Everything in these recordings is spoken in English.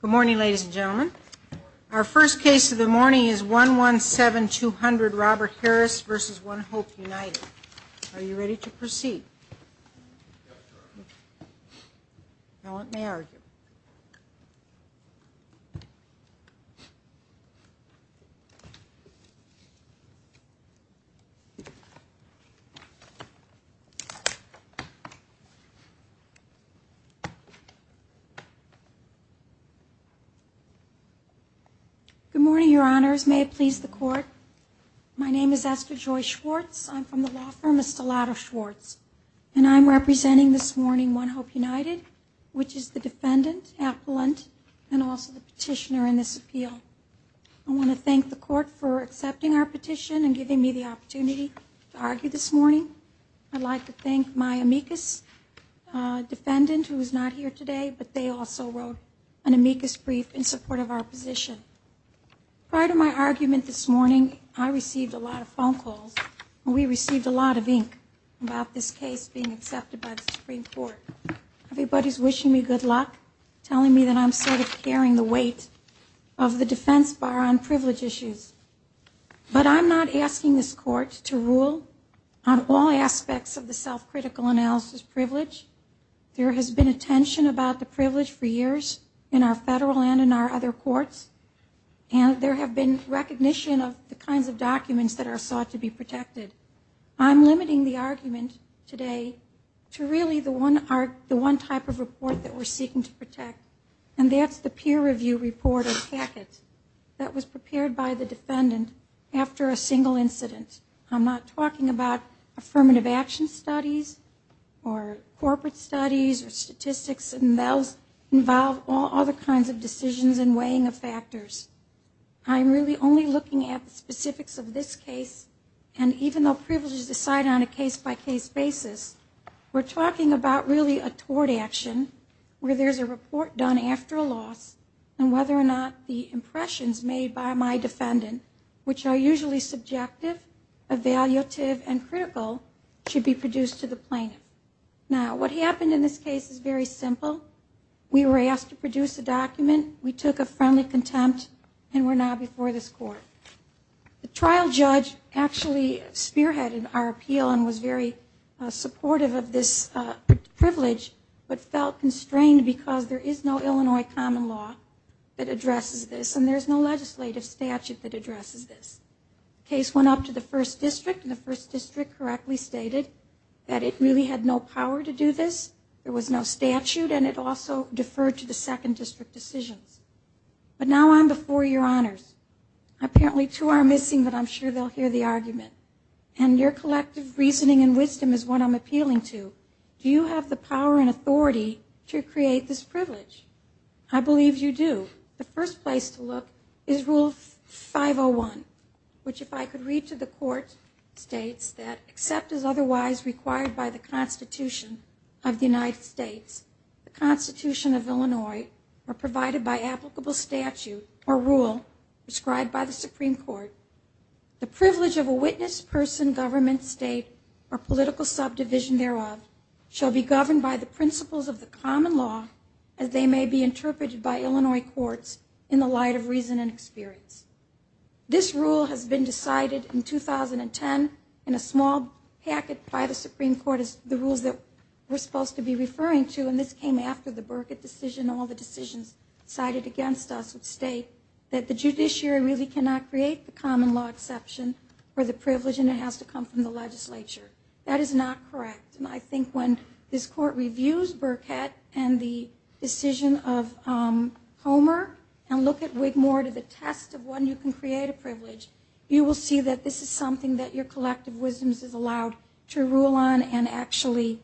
Good morning, ladies and gentlemen. Our first case of the morning is 117200 Robert Harris v. One Hope United. Are you ready to proceed? Now let me argue. Good morning, Your Honors. May it please the Court. My name is Esther Joy Schwartz. I'm from the law firm Estolado Schwartz. And I'm representing this morning One Hope United, which is the defendant, appellant, and also the petitioner in this appeal. I want to thank the Court for accepting our petition and giving me the opportunity to argue this morning. I'd like to thank my amicus defendant, who is not here today, but they also wrote an amicus brief in support of our position. Prior to my argument this morning, I received a lot of phone calls, and we received a lot of ink about this case being accepted by the Supreme Court. Everybody's wishing me good luck, telling me that I'm sort of carrying the weight of the defense bar on privilege issues. But I'm not asking this Court to rule on all aspects of the self-critical analysis privilege. There has been attention about the privilege for years in our federal and in our other courts, and there have been recognition of the kinds of documents that are sought to be protected. I'm limiting the argument today to really the one type of report that we're seeking to protect, and that's the peer review report or packet that was prepared by the defendant after a single incident. I'm not talking about affirmative action studies or corporate studies or statistics, and those involve all other kinds of decisions and weighing of factors. I'm really only looking at the specifics of this case, and even though privilege is decided on a case-by-case basis, we're talking about really a tort action where there's a report done after a loss and whether or not the impressions made by my defendant, which are usually subjective, evaluative, and critical, should be produced to the plaintiff. Now, what happened in this case is very simple. We were asked to produce a document, we took a friendly contempt, and we're now before this Court. The trial judge actually spearheaded our appeal and was very supportive of this privilege but felt constrained because there is no Illinois common law that addresses this and there's no legislative statute that addresses this. The case went up to the first district, and the first district correctly stated that it really had no power to do this, there was no statute, and it also deferred to the second district decisions. But now I'm before your honors. Apparently two are missing, but I'm sure they'll hear the argument. And your collective reasoning and wisdom is what I'm appealing to. Do you have the power and authority to create this privilege? I believe you do. The first place to look is Rule 501, which, if I could read to the Court, states that except as otherwise required by the Constitution of the United States, the Constitution of Illinois, or provided by applicable statute or rule prescribed by the Supreme Court, the privilege of a witness, person, government, state, or political subdivision thereof shall be governed by the principles of the common law as they may be interpreted by Illinois courts in the light of reason and experience. This rule has been decided in 2010 in a small packet by the Supreme Court that is the rules that we're supposed to be referring to, and this came after the Burkett decision and all the decisions cited against us that state that the judiciary really cannot create the common law exception for the privilege and it has to come from the legislature. That is not correct. And I think when this Court reviews Burkett and the decision of Homer and look at Wigmore to the test of when you can create a privilege, you will see that this is something that your collective wisdom is allowed to rule on and actually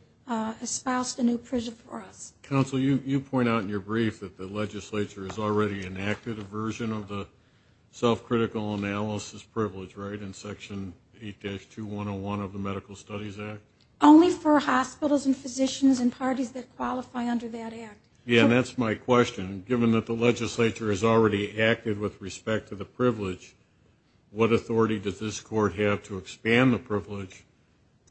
espouse the new privilege for us. Counsel, you point out in your brief that the legislature has already enacted a version of the self-critical analysis privilege, right, in Section 8-2101 of the Medical Studies Act? Only for hospitals and physicians and parties that qualify under that act. Yeah, and that's my question. Given that the legislature has already acted with respect to the privilege, what authority does this Court have to expand the privilege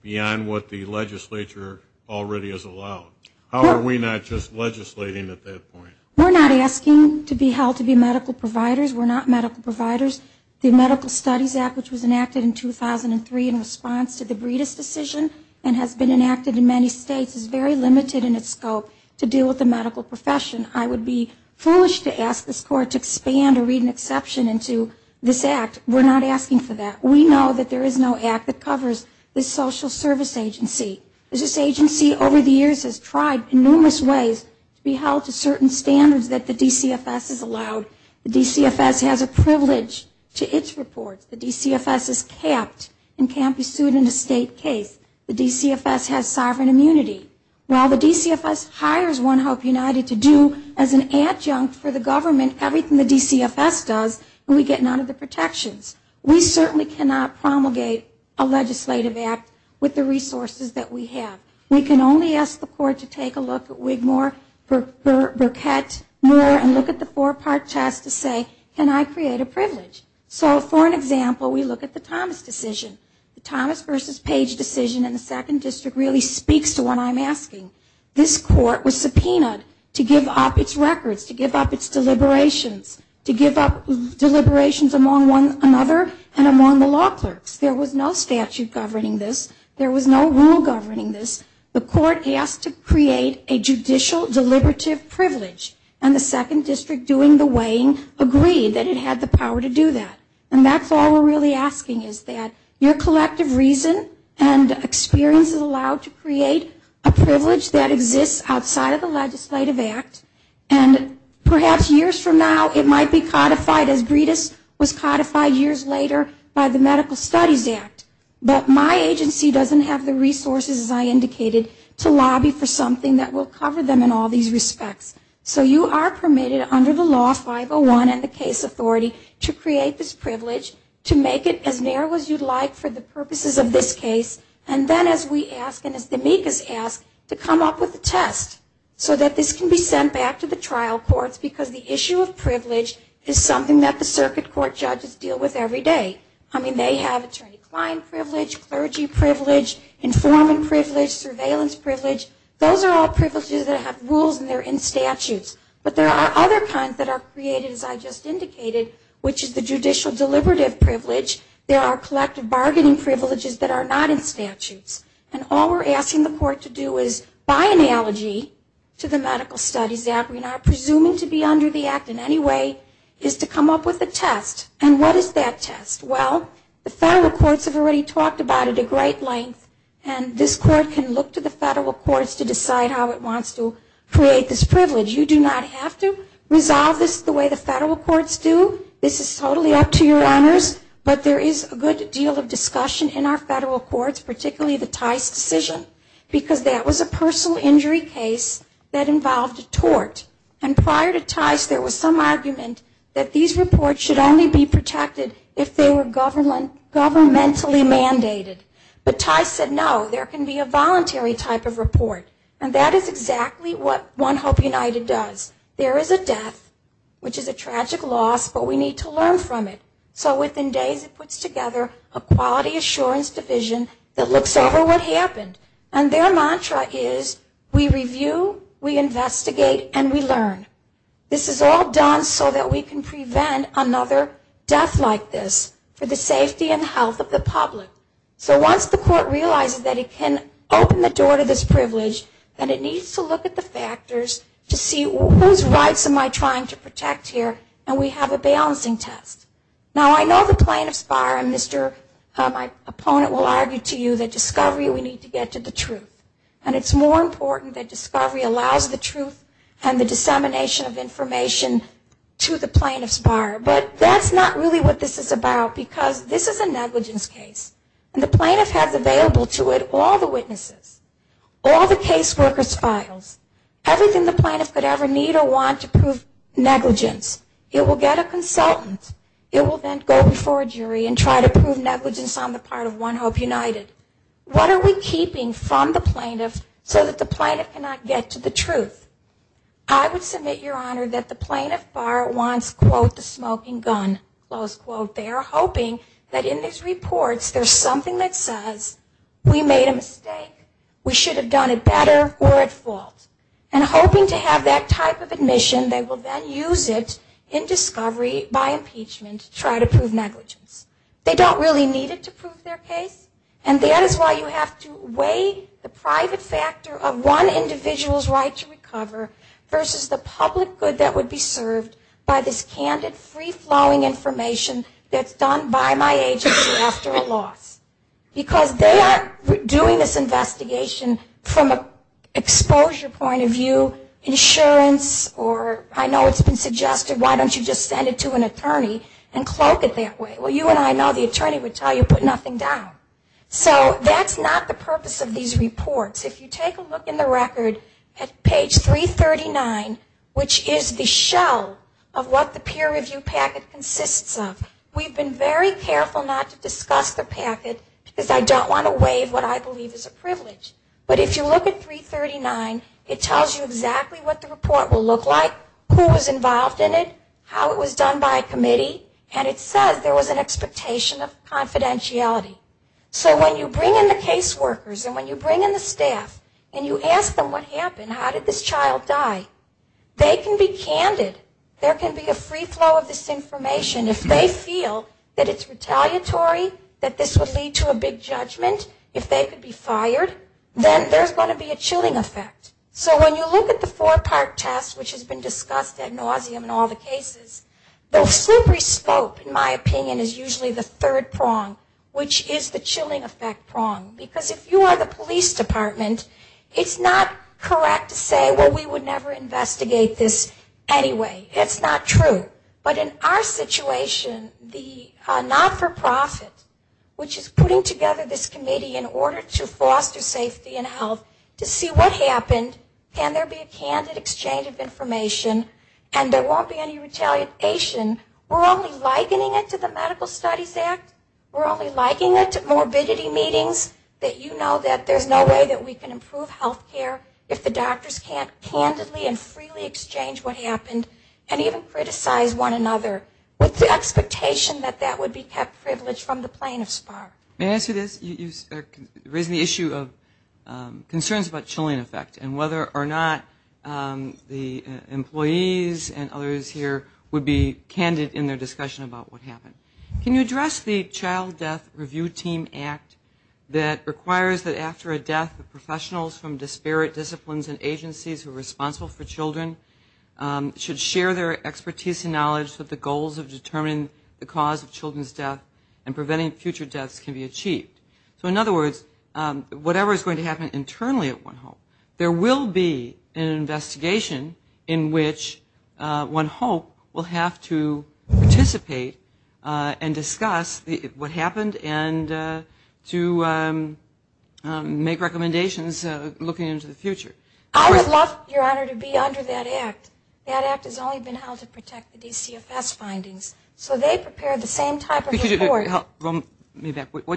beyond what the legislature already has allowed? How are we not just legislating at that point? We're not asking to be held to be medical providers. We're not medical providers. The Medical Studies Act, which was enacted in 2003 in response to the Breedist decision and has been enacted in many states, is very limited in its scope to deal with the medical profession. I would be foolish to ask this Court to expand or read an exception into this act. We're not asking for that. We know that there is no act that covers the social service agency. This agency over the years has tried in numerous ways to be held to certain standards that the DCFS has allowed. The DCFS has a privilege to its reports. The DCFS is capped and can't be sued in a state case. The DCFS has sovereign immunity. While the DCFS hires One Hope United to do as an adjunct for the government everything the DCFS does, we get none of the protections. We certainly cannot promulgate a legislative act with the resources that we have. We can only ask the Court to take a look at Wigmore, Burkett, Moore, and look at the four-part test to say, can I create a privilege? So for an example, we look at the Thomas decision. The Thomas versus Page decision in the Second District really speaks to what I'm asking. This Court was subpoenaed to give up its records, to give up its deliberations, to give up deliberations among one another and among the law clerks. There was no statute governing this. There was no rule governing this. The Court asked to create a judicial deliberative privilege, and the Second District, doing the weighing, agreed that it had the power to do that. And that's all we're really asking is that your collective reason and experience is allowed to create a privilege that exists outside of the legislative act, and perhaps years from now it might be codified as Breedis was codified years later by the Medical Studies Act. But my agency doesn't have the resources, as I indicated, to lobby for something that will cover them in all these respects. So you are permitted under the law 501 and the case authority to create this privilege, to make it as narrow as you'd like for the purposes of this case, and then as we ask and as the amicus ask, to come up with a test so that this can be sent back to the trial courts because the issue of privilege is something that the circuit court judges deal with every day. I mean, they have attorney-client privilege, clergy privilege, informant privilege, surveillance privilege. Those are all privileges that have rules and they're in statutes. But there are other kinds that are created, as I just indicated, which is the judicial deliberative privilege. There are collective bargaining privileges that are not in statutes. And all we're asking the court to do is, by analogy to the Medical Studies Act, we are not presuming to be under the act in any way, is to come up with a test. And what is that test? Well, the federal courts have already talked about it at great length, and this court can look to the federal courts to decide how it wants to create this privilege. You do not have to resolve this the way the federal courts do. This is totally up to your honors, but there is a good deal of discussion in our federal courts, particularly the Tice decision, because that was a personal injury case that involved a tort. And prior to Tice there was some argument that these reports should only be protected if they were governmentally mandated. But Tice said, no, there can be a voluntary type of report. And that is exactly what One Hope United does. There is a death, which is a tragic loss, but we need to learn from it. So within days it puts together a quality assurance division that looks over what happened. And their mantra is, we review, we investigate, and we learn. This is all done so that we can prevent another death like this for the safety and health of the public. So once the court realizes that it can open the door to this privilege, then it needs to look at the factors to see whose rights am I trying to protect here, and we have a balancing test. Now I know the plaintiff's bar and my opponent will argue to you that discovery, we need to get to the truth. And it's more important that discovery allows the truth and the dissemination of information to the plaintiff's bar. But that's not really what this is about because this is a negligence case. And the plaintiff has available to it all the witnesses, all the caseworker's files, everything the plaintiff could ever need or want to prove negligence. It will get a consultant. It will then go before a jury and try to prove negligence on the part of One Hope United. What are we keeping from the plaintiff so that the plaintiff cannot get to the truth? I would submit, Your Honor, that the plaintiff's bar wants, quote, the smoking gun, close quote. They are hoping that in these reports there's something that says, we made a mistake. We should have done it better or at fault. And hoping to have that type of admission, they will then use it in discovery by impeachment to try to prove negligence. They don't really need it to prove their case, and that is why you have to weigh the private factor of one individual's right to recover versus the public good that would be served by this candid, free-flowing information that's done by my agency after a loss. Because they are doing this investigation from an exposure point of view, insurance, or I know it's been suggested, why don't you just send it to an attorney and cloak it that way. Well, you and I know the attorney would tell you, put nothing down. So that's not the purpose of these reports. If you take a look in the record at page 339, which is the shell of what the peer review packet consists of, we've been very careful not to discuss the packet because I don't want to waive what I believe is a privilege. But if you look at 339, it tells you exactly what the report will look like, who was involved in it, how it was done by a committee, and it says there was an expectation of confidentiality. So when you bring in the case workers and when you bring in the staff and you ask them what happened, how did this child die, they can be candid. There can be a free flow of this information. If they feel that it's retaliatory, that this would lead to a big judgment, if they could be fired, then there's going to be a chilling effect. So when you look at the four-part test, which has been discussed ad nauseum in all the cases, the slippery slope, in my opinion, is usually the third prong, which is the chilling effect prong. Because if you are the police department, it's not correct to say, well, we would never investigate this anyway. It's not true. But in our situation, the not-for-profit, which is putting together this committee in order to foster safety and health to see what happened, can there be a candid exchange of information and there won't be any retaliation. We're only likening it to the Medical Studies Act. We're only likening it to morbidity meetings, that you know that there's no way that we can improve health care if the doctors can't candidly and freely exchange what happened and even criticize one another, with the expectation that that would be kept privileged from the plaintiff's part. May I ask you this? You raised the issue of concerns about chilling effect and whether or not the employees and others here would be candid in their discussion about what happened. Can you address the Child Death Review Team Act that requires that after a death, the professionals from disparate disciplines and agencies who are responsible for children should share their expertise and knowledge that the goals of determining the cause of children's death and preventing future deaths can be achieved. So in other words, whatever is going to happen internally at One Hope, there will be an investigation in which One Hope will have to participate and discuss what happened and to make recommendations looking into the future. I would love, Your Honor, to be under that Act. That Act has only been held to protect the DCFS findings. So they prepare the same type of report. What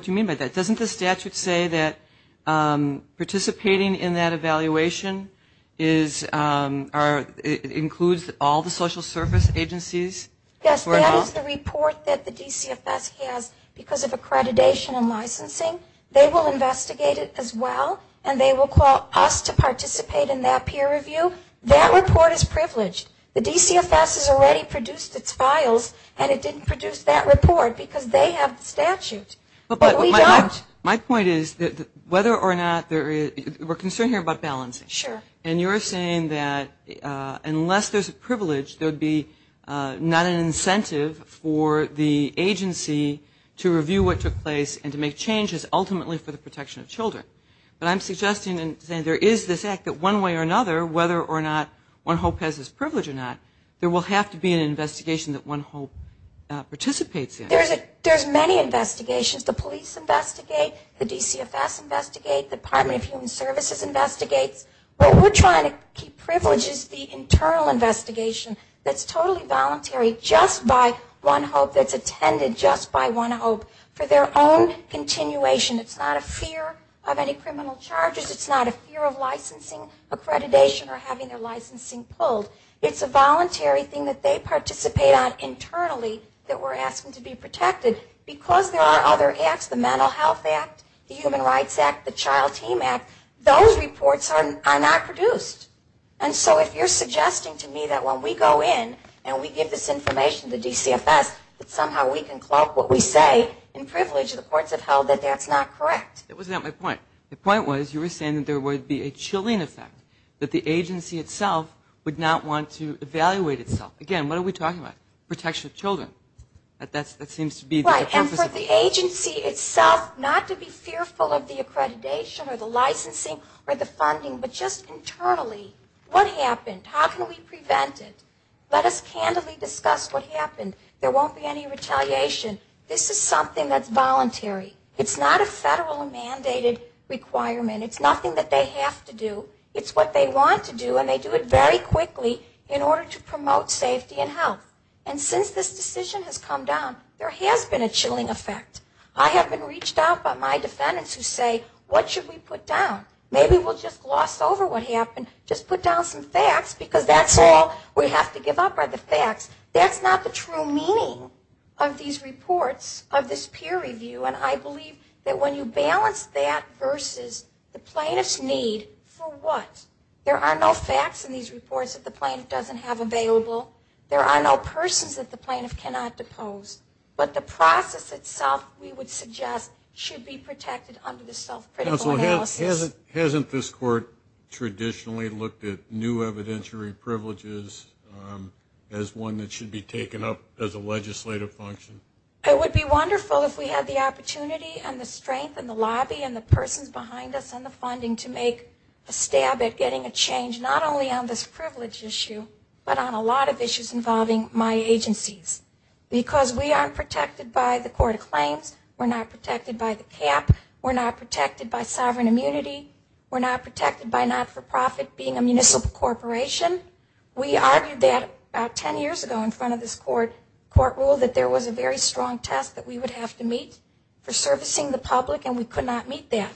do you mean by that? Doesn't the statute say that participating in that evaluation includes all the social service agencies? Yes, that is the report that the DCFS has because of accreditation and licensing. They will investigate it as well, and they will call us to participate in that peer review. That report is privileged. The DCFS has already produced its files, and it didn't produce that report because they have the statute, but we don't. My point is that whether or not there is we're concerned here about balance. Sure. And you're saying that unless there's a privilege, there would be not an incentive for the agency to review what took place and to make changes ultimately for the protection of children. But I'm suggesting and saying there is this Act that one way or another, whether or not One Hope has this privilege or not, there will have to be an investigation that One Hope participates in. There's many investigations. The police investigate. The DCFS investigate. The Department of Human Services investigates. What we're trying to keep privileged is the internal investigation that's totally voluntary just by One Hope, that's attended just by One Hope for their own continuation. It's not a fear of any criminal charges. It's not a fear of licensing, accreditation, or having their licensing pulled. It's a voluntary thing that they participate on internally that we're asking to be protected. Because there are other acts, the Mental Health Act, the Human Rights Act, the Child Team Act, those reports are not produced. And so if you're suggesting to me that when we go in and we give this information to DCFS that somehow we can cloak what we say in privilege of the courts of health, that that's not correct. That was not my point. The point was you were saying that there would be a chilling effect, that the agency itself would not want to evaluate itself. Again, what are we talking about? Protection of children. That seems to be the purpose. Right, and for the agency itself not to be fearful of the accreditation or the licensing or the funding, but just internally. What happened? How can we prevent it? Let us candidly discuss what happened. There won't be any retaliation. This is something that's voluntary. It's not a federal mandated requirement. It's nothing that they have to do. It's what they want to do, and they do it very quickly in order to promote safety and health. And since this decision has come down, there has been a chilling effect. I have been reached out by my defendants who say, what should we put down? Maybe we'll just gloss over what happened, just put down some facts because that's all we have to give up are the facts. That's not the true meaning of these reports, of this peer review. And I believe that when you balance that versus the plaintiff's need for what? There are no facts in these reports that the plaintiff doesn't have available. There are no persons that the plaintiff cannot depose. But the process itself, we would suggest, should be protected under the self-critical analysis. Counsel, hasn't this court traditionally looked at new evidentiary privileges as one that should be taken up as a legislative function? It would be wonderful if we had the opportunity and the strength and the lobby and the persons behind us and the funding to make a stab at getting a change, not only on this privilege issue, but on a lot of issues involving my agencies. Because we aren't protected by the court of claims. We're not protected by the cap. We're not protected by sovereign immunity. We're not protected by not-for-profit being a municipal corporation. We argued that about ten years ago in front of this court rule that there was a very strong test that we would have to meet for servicing the public, and we could not meet that.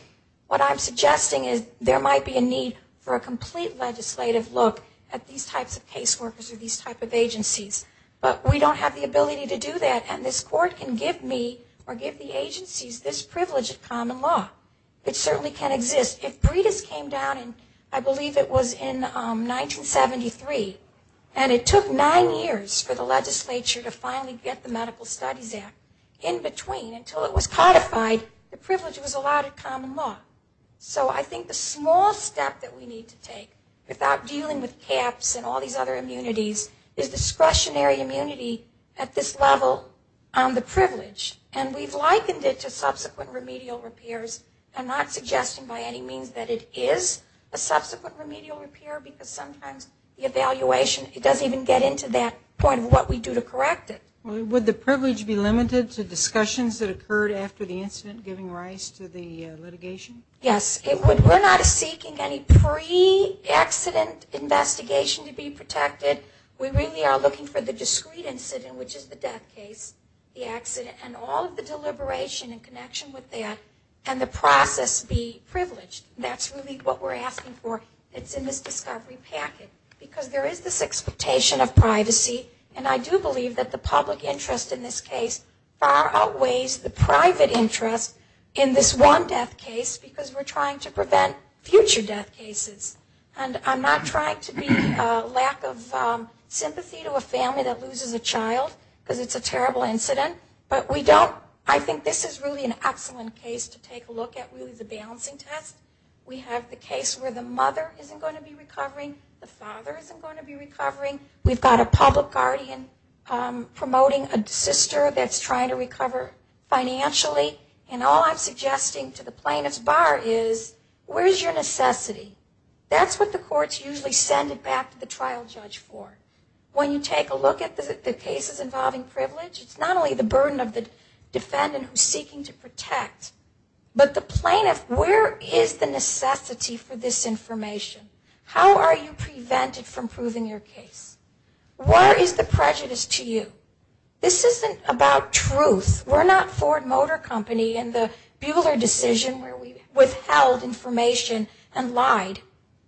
What I'm suggesting is there might be a need for a complete legislative look at these types of caseworkers or these types of agencies. But we don't have the ability to do that, and this court can give me or give the agencies this privilege of common law. It certainly can exist. If Breedis came down in, I believe it was in 1973, and it took nine years for the legislature to finally get the Medical Studies Act in between until it was codified the privilege was allowed in common law. So I think the small step that we need to take without dealing with caps and all these other immunities is discretionary immunity at this level on the privilege. And we've likened it to subsequent remedial repairs. I'm not suggesting by any means that it is a subsequent remedial repair because sometimes the evaluation doesn't even get into that point of what we do to correct it. Would the privilege be limited to discussions that occurred after the incident giving rise to the litigation? Yes. We're not seeking any pre-accident investigation to be protected. We really are looking for the discrete incident, which is the death case, the accident, and all of the deliberation in connection with that, and the process be privileged. That's really what we're asking for. It's in this discovery packet because there is this expectation of privacy, and I do believe that the public interest in this case far outweighs the private interest in this one death case because we're trying to prevent future death cases. And I'm not trying to be lack of sympathy to a family that loses a child because it's a terrible incident, but I think this is really an excellent case to take a look at with the balancing test. We have the case where the mother isn't going to be recovering. The father isn't going to be recovering. We've got a public guardian promoting a sister that's trying to recover financially, and all I'm suggesting to the plaintiff's bar is where is your necessity? That's what the courts usually send it back to the trial judge for. When you take a look at the cases involving privilege, it's not only the burden of the defendant who's seeking to protect, but the plaintiff, where is the necessity for this information? How are you prevented from proving your case? Where is the prejudice to you? This isn't about truth. We're not Ford Motor Company and the Bueller decision where we withheld information and lied.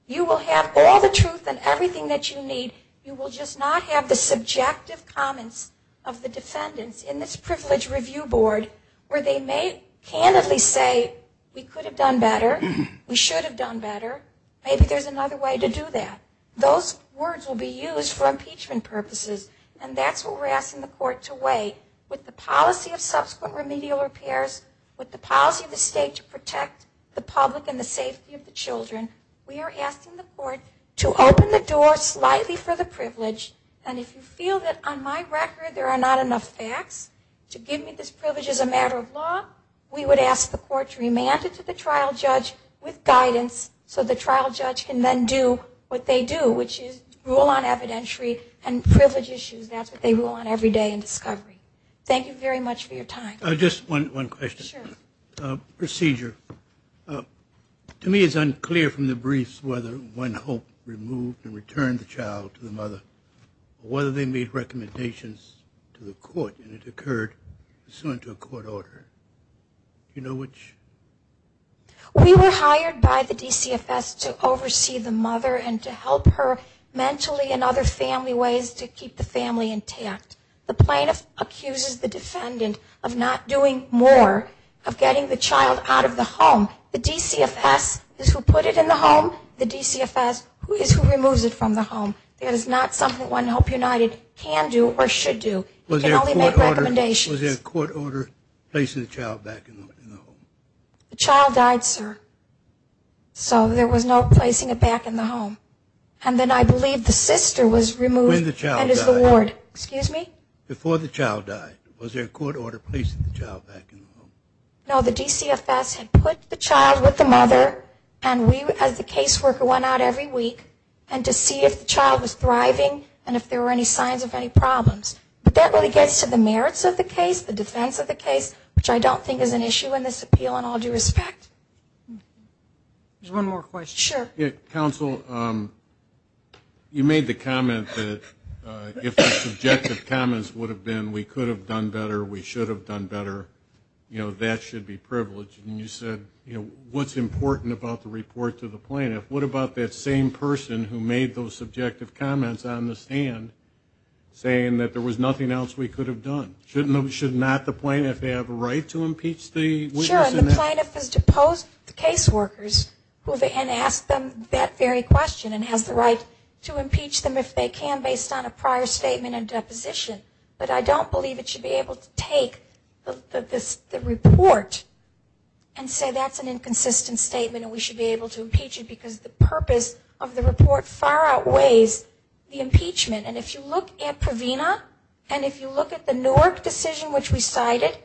You will have all the truth and everything that you need. You will just not have the subjective comments of the defendants in this privilege review board where they may candidly say, we could have done better. We should have done better. Maybe there's another way to do that. Those words will be used for impeachment purposes, and that's what we're asking the court to weigh with the policy of subsequent remedial repairs, with the policy of the state to protect the public and the safety of the children. We are asking the court to open the door slightly for the privilege, and if you feel that on my record there are not enough facts to give me this privilege as a matter of law, we would ask the court to remand it to the trial judge with guidance so the trial judge can then do what they do, which is rule on evidentiary and privilege issues. That's what they rule on every day in discovery. Thank you very much for your time. Just one question. Sure. Procedure. To me it's unclear from the briefs whether one hope removed and returned the child to the mother or whether they made recommendations to the court and it occurred pursuant to a court order. Do you know which? We were hired by the DCFS to oversee the mother and to help her mentally and other family ways to keep the family intact. The plaintiff accuses the defendant of not doing more, of getting the child out of the home. The DCFS is who put it in the home. The DCFS is who removes it from the home. It is not something One Hope United can do or should do. It can only make recommendations. Was there a court order placing the child back in the home? The child died, sir. So there was no placing it back in the home. And then I believe the sister was removed. And then the child died. And is the ward. Excuse me? Before the child died. Was there a court order placing the child back in the home? No, the DCFS had put the child with the mother and we as the caseworker went out every week and to see if the child was thriving and if there were any signs of any problems. But that really gets to the merits of the case, the defense of the case, which I don't think is an issue in this appeal in all due respect. Just one more question. Sure. Counsel, you made the comment that if the subjective comments would have been, we could have done better, we should have done better, that should be privileged. And you said, what's important about the report to the plaintiff? What about that same person who made those subjective comments on the stand saying that there was nothing else we could have done? Should not the plaintiff have a right to impeach the witness? Sure, and the plaintiff has deposed the caseworkers and asked them that very question and has the right to impeach them if they can based on a prior statement and deposition. But I don't believe it should be able to take the report and say that's an inconsistent statement and we should be able to impeach it because the purpose of the report far outweighs the impeachment. And if you look at Provena and if you look at the Newark decision which we cited,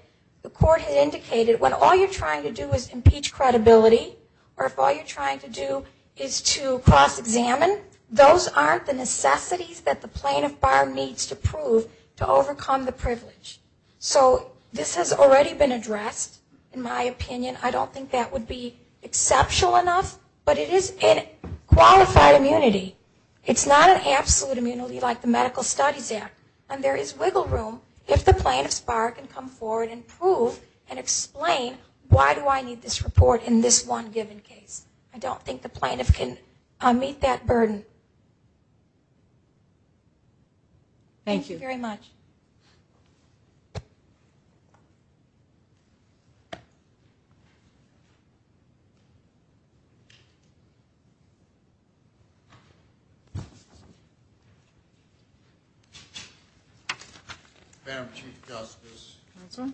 the court had indicated when all you're trying to do is impeach credibility or if all you're trying to do is to cross-examine, those aren't the necessities that the plaintiff bar needs to prove to overcome the privilege. So this has already been addressed, in my opinion. I don't think that would be exceptional enough, but it is a qualified immunity. It's not an absolute immunity like the Medical Studies Act. And there is wiggle room if the plaintiff's bar can come forward and prove and explain why do I need this report in this one given case. I don't think the plaintiff can meet that burden. Thank you very much. Madam Chief Justice. Counsel.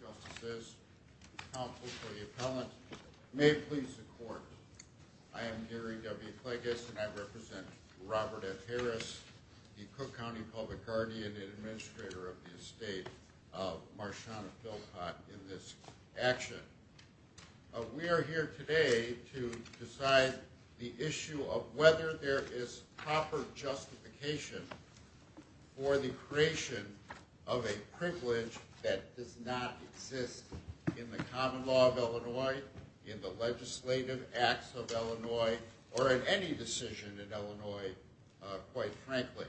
Justices. Counsel to the appellant. May it please the court. I am Gary W. Cleggis and I represent Robert F. Harris, the Cook County Public Guardian and administrator of the estate of Marshauna Philpott in this action. We are here today to decide the issue of whether there is proper justification for the creation of a privilege that does not exist in the common law of Illinois, in the legislative acts of Illinois, or in any decision in Illinois, quite frankly.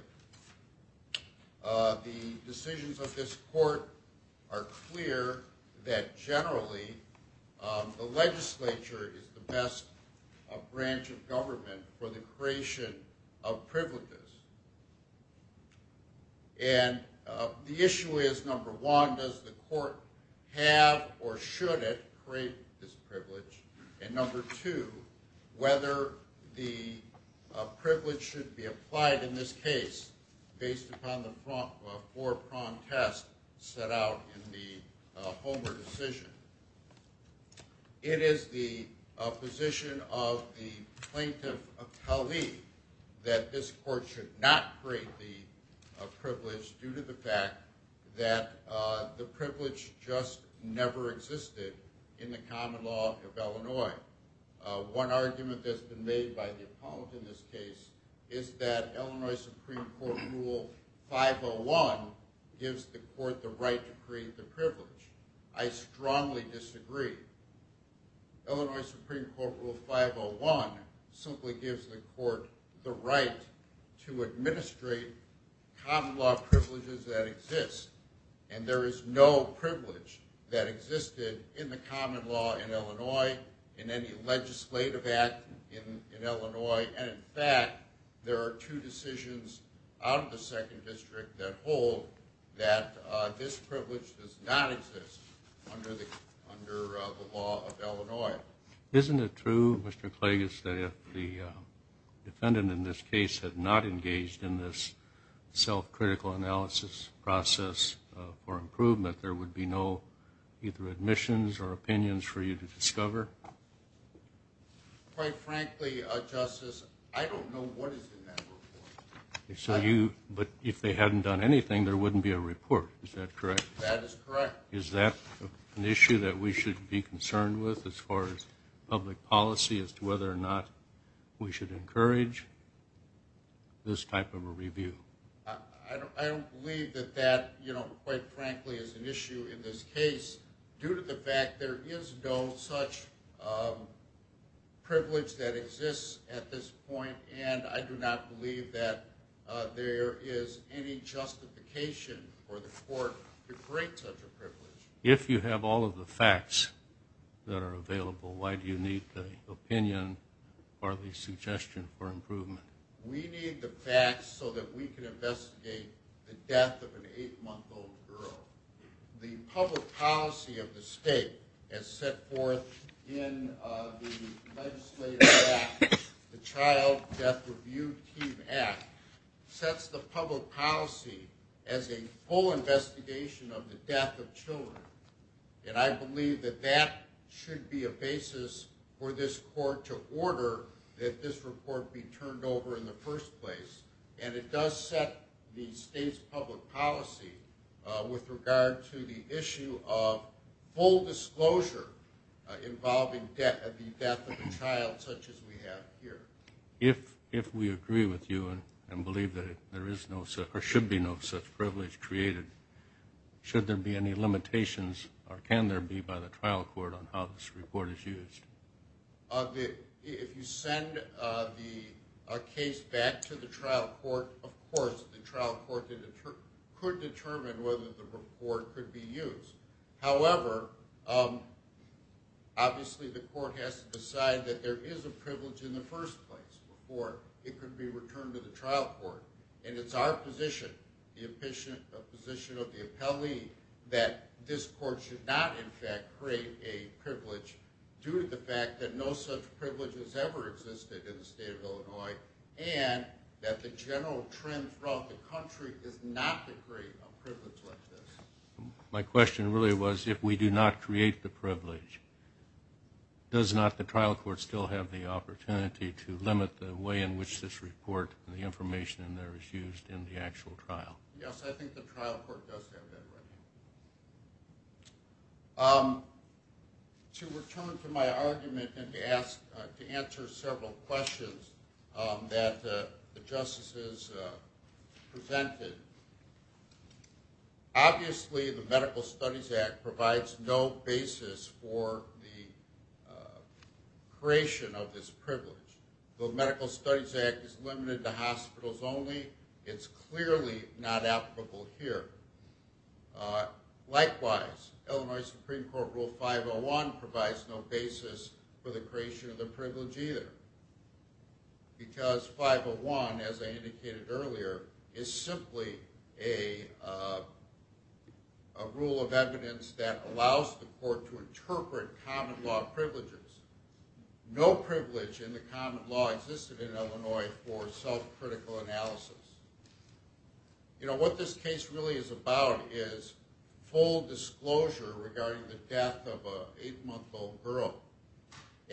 The decisions of this court are clear that generally the legislature is the best branch of government for the creation of privileges. And the issue is, number one, does the court have or should it create this privilege? And number two, whether the privilege should be applied in this case based upon the four-pronged test set out in the Homer decision. It is the position of the plaintiff, a colleague, that this court should not create the privilege due to the fact that the privilege just never existed in the common law of Illinois. One argument that's been made by the appellant in this case is that Illinois Supreme Court Rule 501 gives the court the right to create the privilege. I strongly disagree. Illinois Supreme Court Rule 501 simply gives the court the right to administrate common law privileges that exist. And there is no privilege that existed in the common law in Illinois, in any legislative act in Illinois. And in fact, there are two decisions out of the Second District that hold that this privilege does not exist under the law of Illinois. Isn't it true, Mr. Klages, that if the defendant in this case had not engaged in this self-critical analysis process for improvement, there would be no either admissions or opinions for you to discover? Quite frankly, Justice, I don't know what is in that report. But if they hadn't done anything, there wouldn't be a report, is that correct? That is correct. Is that an issue that we should be concerned with as far as public policy, as to whether or not we should encourage this type of a review? I don't believe that that, quite frankly, is an issue in this case, due to the fact there is no such privilege that exists at this point, and I do not believe that there is any justification for the court to create such a privilege. If you have all of the facts that are available, why do you need the opinion or the suggestion for improvement? We need the facts so that we can investigate the death of an eight-month-old girl. The public policy of the state has set forth in the legislative act the Child Death Review Team Act, sets the public policy as a full investigation of the death of children, and I believe that that should be a basis for this court to order that this report be turned over in the first place. And it does set the state's public policy with regard to the issue of full disclosure involving the death of a child such as we have here. If we agree with you and believe that there should be no such privilege created, should there be any limitations, or can there be, by the trial court on how this report is used? If you send the case back to the trial court, of course the trial court could determine whether the report could be used. However, obviously the court has to decide that there is a privilege in the first place before it could be returned to the trial court, and it's our position, the position of the appellee, that this court should not, in fact, create a privilege due to the fact that no such privilege has ever existed in the state of Illinois and that the general trend throughout the country is not to create a privilege like this. My question really was, if we do not create the privilege, does not the trial court still have the opportunity to limit the way in which this report and the information in there is used in the actual trial? Yes, I think the trial court does have that right. To return to my argument and to answer several questions that the justices presented, obviously the Medical Studies Act provides no basis for the creation of this privilege. The Medical Studies Act is limited to hospitals only. It's clearly not applicable here. Likewise, Illinois Supreme Court Rule 501 provides no basis for the creation of the privilege either, because 501, as I indicated earlier, is simply a rule of evidence that allows the court to interpret common law privileges. No privilege in the common law existed in Illinois for self-critical analysis. What this case really is about is full disclosure regarding the death of an 8-month-old girl,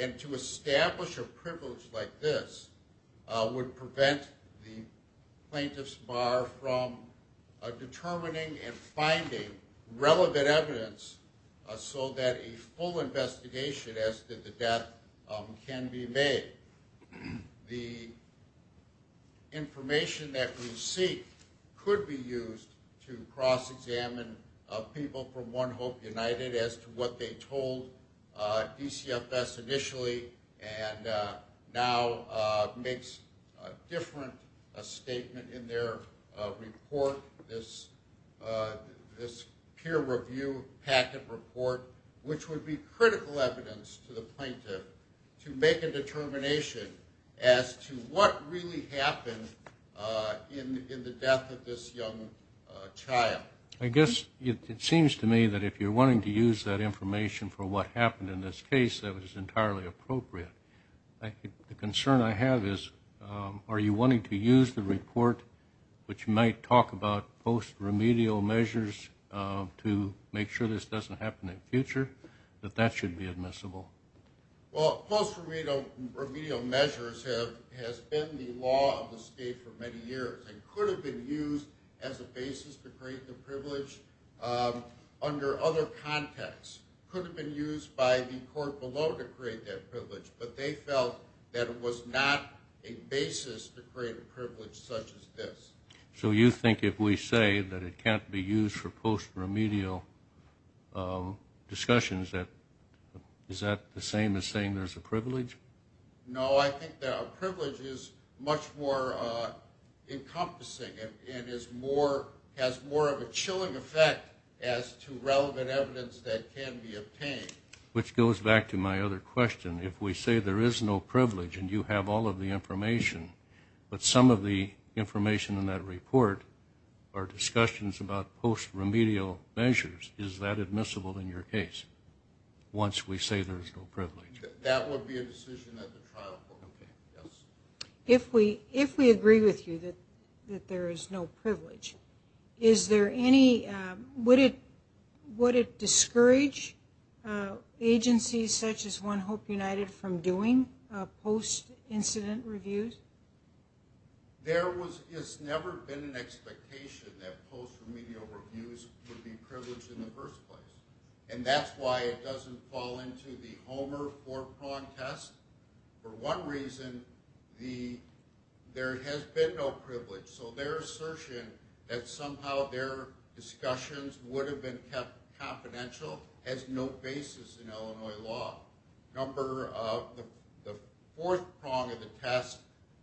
and to establish a privilege like this would prevent the plaintiff's bar from determining and finding relevant evidence so that a full investigation as to the death can be made. The information that we seek could be used to cross-examine people from One Hope United as to what they told DCFS initially and now makes a different statement in their report, this peer review packet report, which would be critical evidence to the plaintiff to make a determination as to what really happened in the death of this young child. I guess it seems to me that if you're wanting to use that information for what happened in this case, that was entirely appropriate. The concern I have is, are you wanting to use the report, which might talk about post-remedial measures to make sure this doesn't happen in the future, that that should be admissible? Well, post-remedial measures has been the law of the state for many years and could have been used as a basis to create the privilege under other contexts. It could have been used by the court below to create that privilege, but they felt that it was not a basis to create a privilege such as this. So you think if we say that it can't be used for post-remedial discussions, is that the same as saying there's a privilege? No, I think that a privilege is much more encompassing and has more of a chilling effect as to relevant evidence that can be obtained. Which goes back to my other question. If we say there is no privilege and you have all of the information, but some of the information in that report are discussions about post-remedial measures, is that admissible in your case once we say there's no privilege? That would be a decision that the trial court would make, yes. If we agree with you that there is no privilege, would it discourage agencies such as One Hope United from doing post-incident reviews? There has never been an expectation that post-remedial reviews would be privileged in the first place. And that's why it doesn't fall into the Homer four-prong test. For one reason, there has been no privilege. So their assertion that somehow their discussions would have been kept confidential has no basis in Illinois law. The fourth prong of the test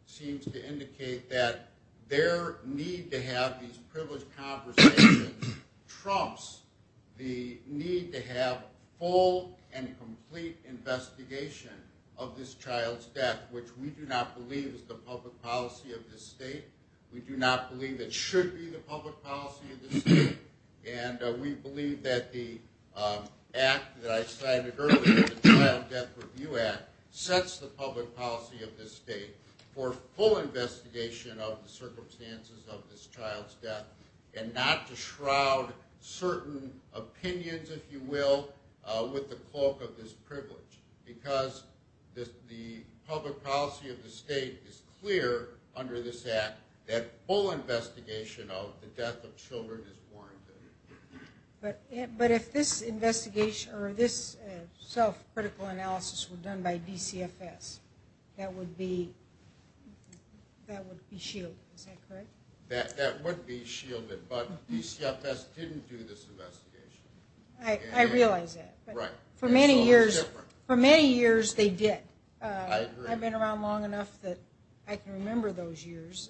seems to indicate that their need to have these privileged conversations trumps the need to have full and complete investigation of this child's death, which we do not believe is the public policy of this state. We do not believe it should be the public policy of this state. And we believe that the act that I cited earlier, the Child Death Review Act, sets the public policy of this state for full investigation of the circumstances of this child's death and not to shroud certain opinions, if you will, with the cloak of this privilege because the public policy of the state is clear under this act that full investigation of the death of children is warranted. But if this self-critical analysis were done by DCFS, that would be shielded, is that correct? That would be shielded, but DCFS didn't do this investigation. I realize that, but for many years they did. I've been around long enough that I can remember those years.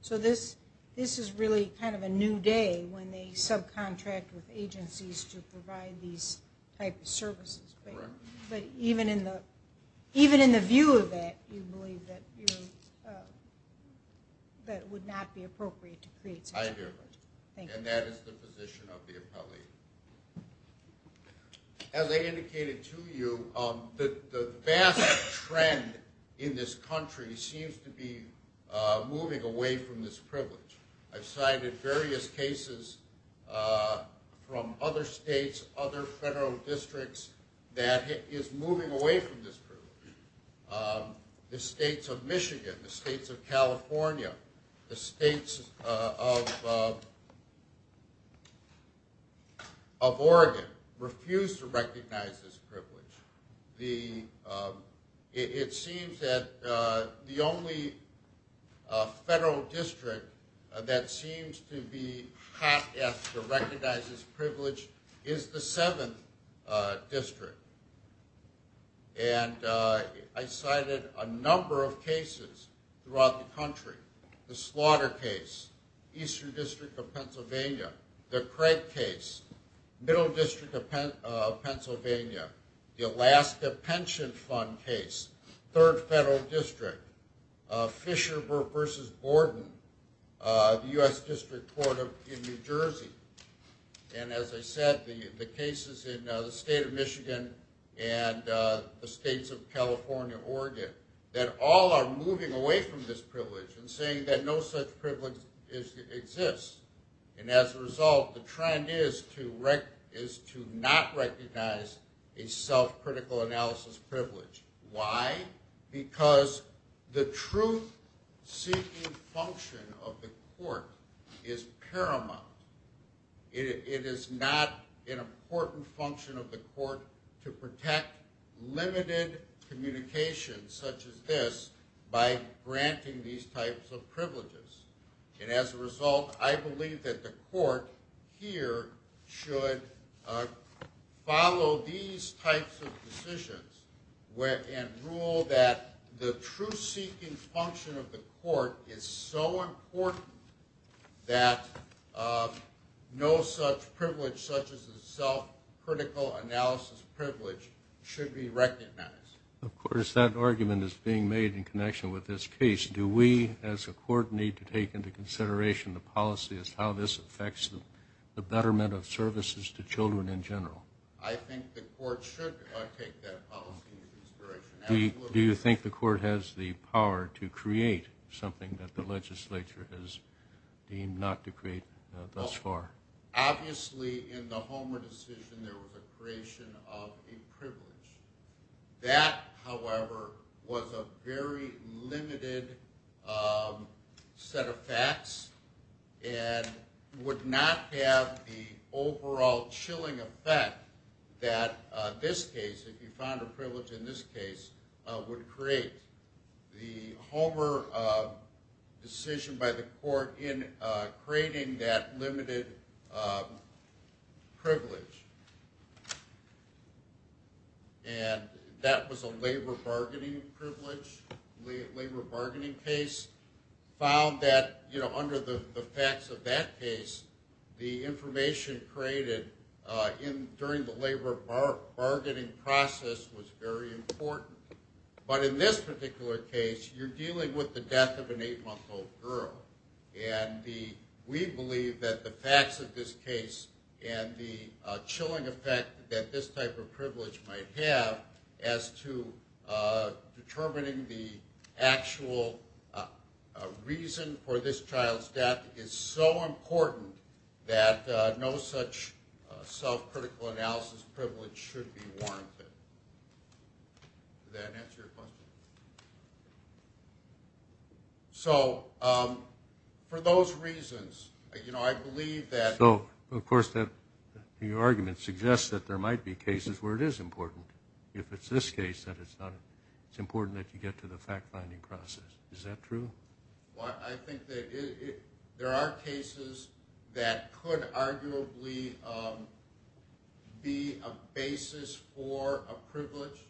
So this is really kind of a new day when they subcontract with agencies to provide these types of services. But even in the view of it, you believe that it would not be appropriate to create such a privilege. I do, and that is the position of the appellee. As I indicated to you, the vast trend in this country seems to be moving away from this privilege. I've cited various cases from other states, other federal districts that is moving away from this privilege. The states of Michigan, the states of California, the states of Oregon refuse to recognize this privilege. It seems that the only federal district that seems to be hot after recognizes privilege is the 7th district. And I cited a number of cases throughout the country. The slaughter case, Eastern District of Pennsylvania, the Craig case, Middle District of Pennsylvania, the Alaska Pension Fund case, 3rd Federal District, Fisher v. Borden, the U.S. District Court in New Jersey. And as I said, the cases in the state of Michigan and the states of California, Oregon, that all are moving away from this privilege and saying that no such privilege exists. And as a result, the trend is to not recognize a self-critical analysis privilege. Why? Because the truth-seeking function of the court is paramount. It is not an important function of the court to protect limited communication such as this by granting these types of privileges. And as a result, I believe that the court here should follow these types of decisions and rule that the truth-seeking function of the court is so important that no such privilege, such as a self-critical analysis privilege, should be recognized. Of course, that argument is being made in connection with this case. Do we, as a court, need to take into consideration the policy as to how this affects the betterment of services to children in general? I think the court should take that policy into consideration. Absolutely. Do you think the court has the power to create something that the legislature has deemed not to create thus far? Obviously, in the Homer decision, there was a creation of a privilege. That, however, was a very limited set of facts and would not have the overall chilling effect that this case, if you found a privilege in this case, would create. The Homer decision by the court in creating that limited privilege, and that was a labor bargaining privilege, labor bargaining case, found that under the facts of that case, the information created during the labor bargaining process was very important. But in this particular case, you're dealing with the death of an eight-month-old girl, and we believe that the facts of this case and the chilling effect that this type of privilege might have as to determining the actual reason for this child's death is so important that no such self-critical analysis privilege should be warranted. Does that answer your question? So for those reasons, I believe that... So, of course, your argument suggests that there might be cases where it is important. If it's this case, it's important that you get to the fact-finding process. Is that true? I think that there are cases that could arguably be a basis for a privilege,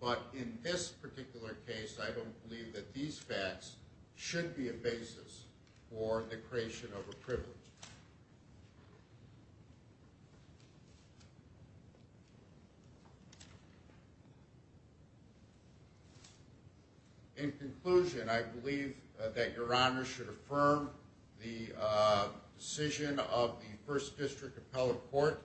but in this particular case, I don't believe that these facts should be a basis for the creation of a privilege. In conclusion, I believe that Your Honor should affirm the decision of the First District Appellate Court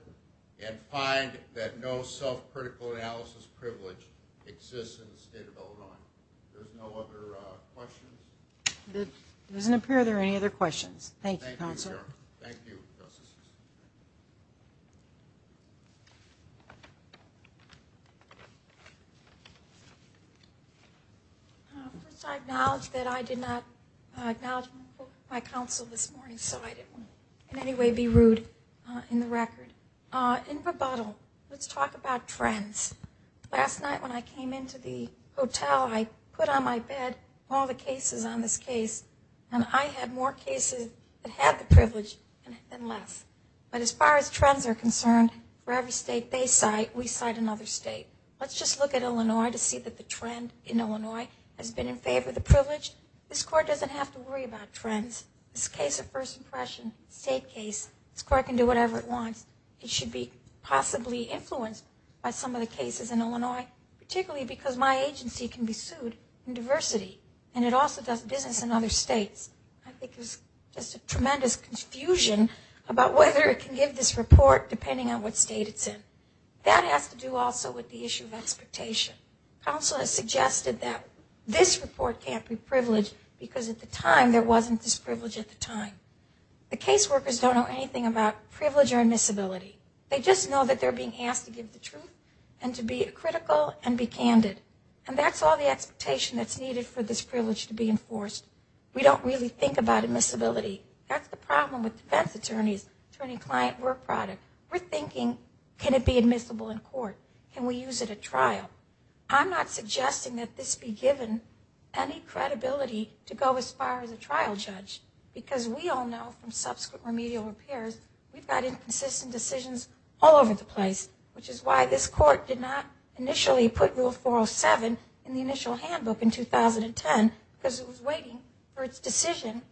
and find that no self-critical analysis privilege exists in the state of Illinois. If there's no other questions... It doesn't appear there are any other questions. Thank you, Counsel. Thank you, Your Honor. Thank you, Justice. First, I acknowledge that I did not acknowledge my counsel this morning, so I didn't want to in any way be rude in the record. In rebuttal, let's talk about trends. Last night when I came into the hotel, I put on my bed all the cases on this case, and I had more cases that had the privilege than less. But as far as trends are concerned, for every state they cite, we cite another state. Let's just look at Illinois to see that the trend in Illinois has been in favor of the privilege. This Court doesn't have to worry about trends. This case of first impression, state case, this Court can do whatever it wants. It should be possibly influenced by some of the cases in Illinois, particularly because my agency can be sued in diversity, and it also does business in other states. I think there's just a tremendous confusion about whether it can give this report depending on what state it's in. That has to do also with the issue of expectation. Counsel has suggested that this report can't be privileged because at the time there wasn't this privilege at the time. The case workers don't know anything about privilege or admissibility. They just know that they're being asked to give the truth and to be critical and be candid. And that's all the expectation that's needed for this privilege to be enforced. We don't really think about admissibility. That's the problem with defense attorneys, attorney-client work product. We're thinking can it be admissible in court? Can we use it at trial? I'm not suggesting that this be given any credibility to go as far as a trial judge because we all know from subsequent remedial repairs we've got inconsistent decisions all over the place, which is why this court did not initially put Rule 407 in the initial handbook in 2010 because it was waiting for its decision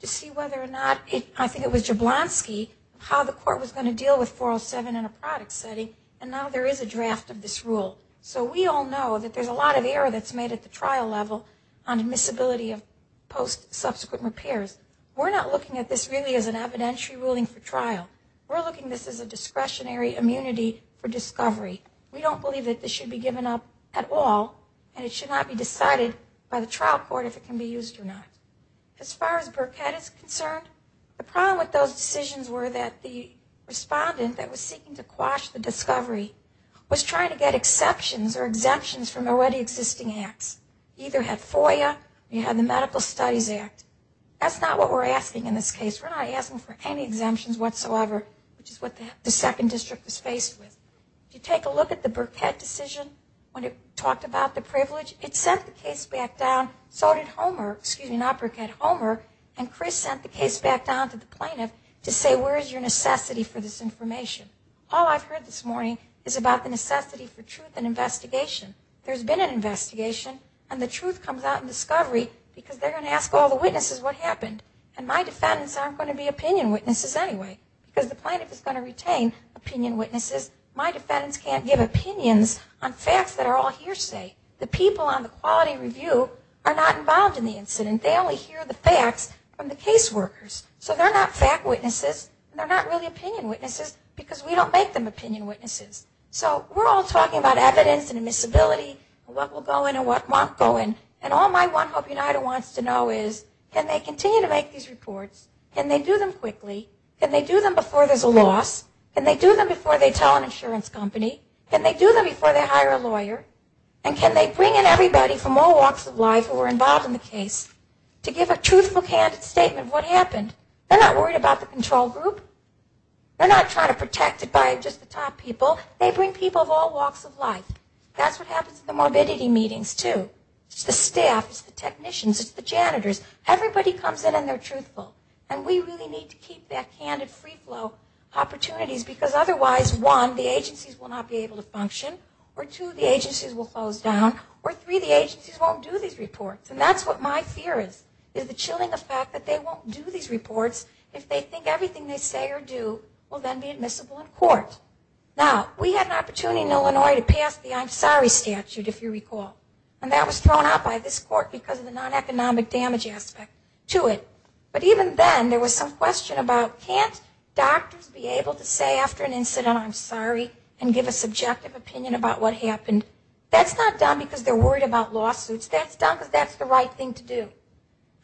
to see whether or not, I think it was Jablonski, how the court was going to deal with 407 in a product setting. And now there is a draft of this rule. So we all know that there's a lot of error that's made at the trial level on admissibility of post-subsequent repairs. We're not looking at this really as an evidentiary ruling for trial. We're looking at this as a discretionary immunity for discovery. We don't believe that this should be given up at all and it should not be decided by the trial court if it can be used or not. As far as Burkett is concerned, the problem with those decisions were that the respondent that was seeking to quash the discovery was trying to get exceptions or exemptions from already existing acts. Either had FOIA or you had the Medical Studies Act. That's not what we're asking in this case. We're not asking for any exemptions whatsoever, which is what the second district was faced with. If you take a look at the Burkett decision, when it talked about the privilege, it sent the case back down, so did Homer, excuse me, not Burkett, Homer, and Chris sent the case back down to the plaintiff to say, where is your necessity for this information? All I've heard this morning is about the necessity for truth and investigation. There's been an investigation and the truth comes out in discovery because they're going to ask all the witnesses what happened. And my defendants aren't going to be opinion witnesses anyway because the plaintiff is going to retain opinion witnesses. My defendants can't give opinions on facts that are all hearsay. The people on the quality review are not involved in the incident. They only hear the facts from the case workers. So they're not fact witnesses and they're not really opinion witnesses because we don't make them opinion witnesses. So we're all talking about evidence and admissibility and what will go in and what won't go in. And all my One Hope United wants to know is can they continue to make these reports? Can they do them quickly? Can they do them before there's a loss? Can they do them before they tell an insurance company? Can they do them before they hire a lawyer? And can they bring in everybody from all walks of life who were involved in the case to give a truthful, candid statement of what happened? They're not worried about the control group. They're not trying to protect it by just the top people. They bring people of all walks of life. That's what happens at the morbidity meetings too. It's the staff. It's the technicians. It's the janitors. Everybody comes in and they're truthful. And we really need to keep that candid free flow opportunities because otherwise, one, the agencies will not be able to function, or two, the agencies will close down, or three, the agencies won't do these reports. And that's what my fear is, is the chilling effect that they won't do these reports if they think everything they say or do will then be admissible in court. Now, we had an opportunity in Illinois to pass the I'm sorry statute, if you recall. And that was thrown out by this court because of the non-economic damage aspect to it. But even then, there was some question about can't doctors be able to say after an incident, I'm sorry, and give a subjective opinion about what happened? That's not done because they're worried about lawsuits. That's done because that's the right thing to do.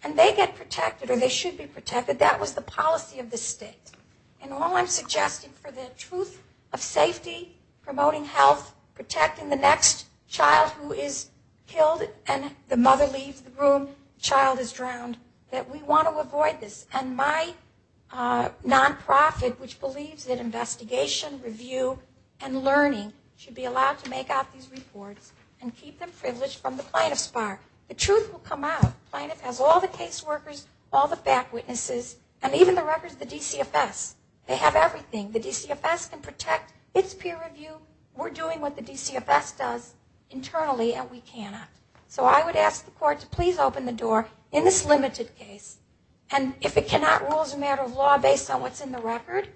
And they get protected or they should be protected. That was the policy of the state. And all I'm suggesting for the truth of safety, promoting health, protecting the next child who is killed and the mother leaves the room, the child is drowned, that we want to avoid this. And my nonprofit, which believes that investigation, review, and learning should be allowed to make out these reports and keep them privileged from the plaintiff's bar. The truth will come out. The plaintiff has all the case workers, all the fact witnesses, and even the records of the DCFS. They have everything. The DCFS can protect its peer review. We're doing what the DCFS does internally, and we cannot. So I would ask the court to please open the door in this limited case. And if it cannot rule as a matter of law based on what's in the record,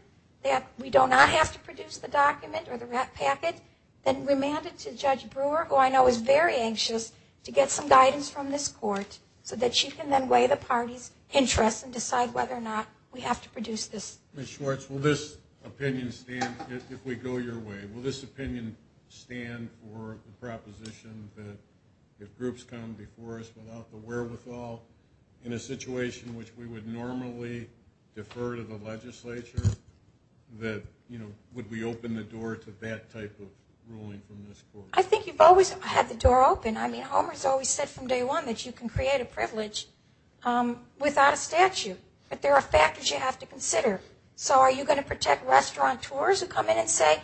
that we do not have to produce the document or the packet, then remand it to Judge Brewer, who I know is very anxious, to get some guidance from this court so that she can then weigh the party's interests and decide whether or not we have to produce this. Ms. Schwartz, will this opinion stand if we go your way? Will this opinion stand for the proposition that if groups come before us without the wherewithal in a situation which we would normally defer to the ruling from this court? I think you've always had the door open. I mean, Homer's always said from day one that you can create a privilege without a statute, but there are factors you have to consider. So are you going to protect restaurateurs who come in and say,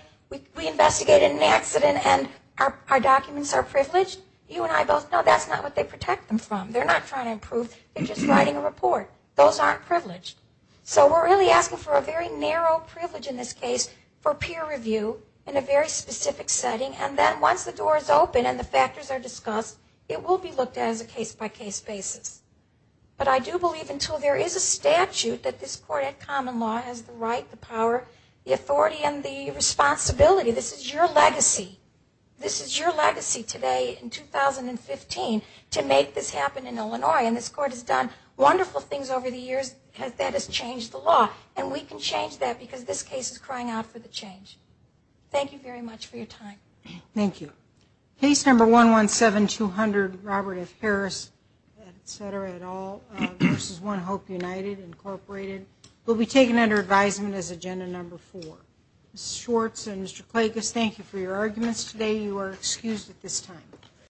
we investigated an accident and our documents are privileged? You and I both know that's not what they protect them from. They're not trying to improve. They're just writing a report. Those aren't privileged. So we're really asking for a very narrow privilege in this case for peer review in a very specific setting, and then once the door is open and the factors are discussed, it will be looked at as a case-by-case basis. But I do believe until there is a statute that this court at common law has the right, the power, the authority, and the responsibility, this is your legacy. This is your legacy today in 2015 to make this happen in Illinois, and this court has done wonderful things over the years that has changed the law, and we can change that because this case is crying out for the change. Thank you very much for your time. Thank you. Case number 117200, Robert F. Harris, et cetera, et al., versus One Hope United, Incorporated, will be taken under advisement as agenda number four. Ms. Schwartz and Mr. Klages, thank you for your arguments today. You are excused at this time.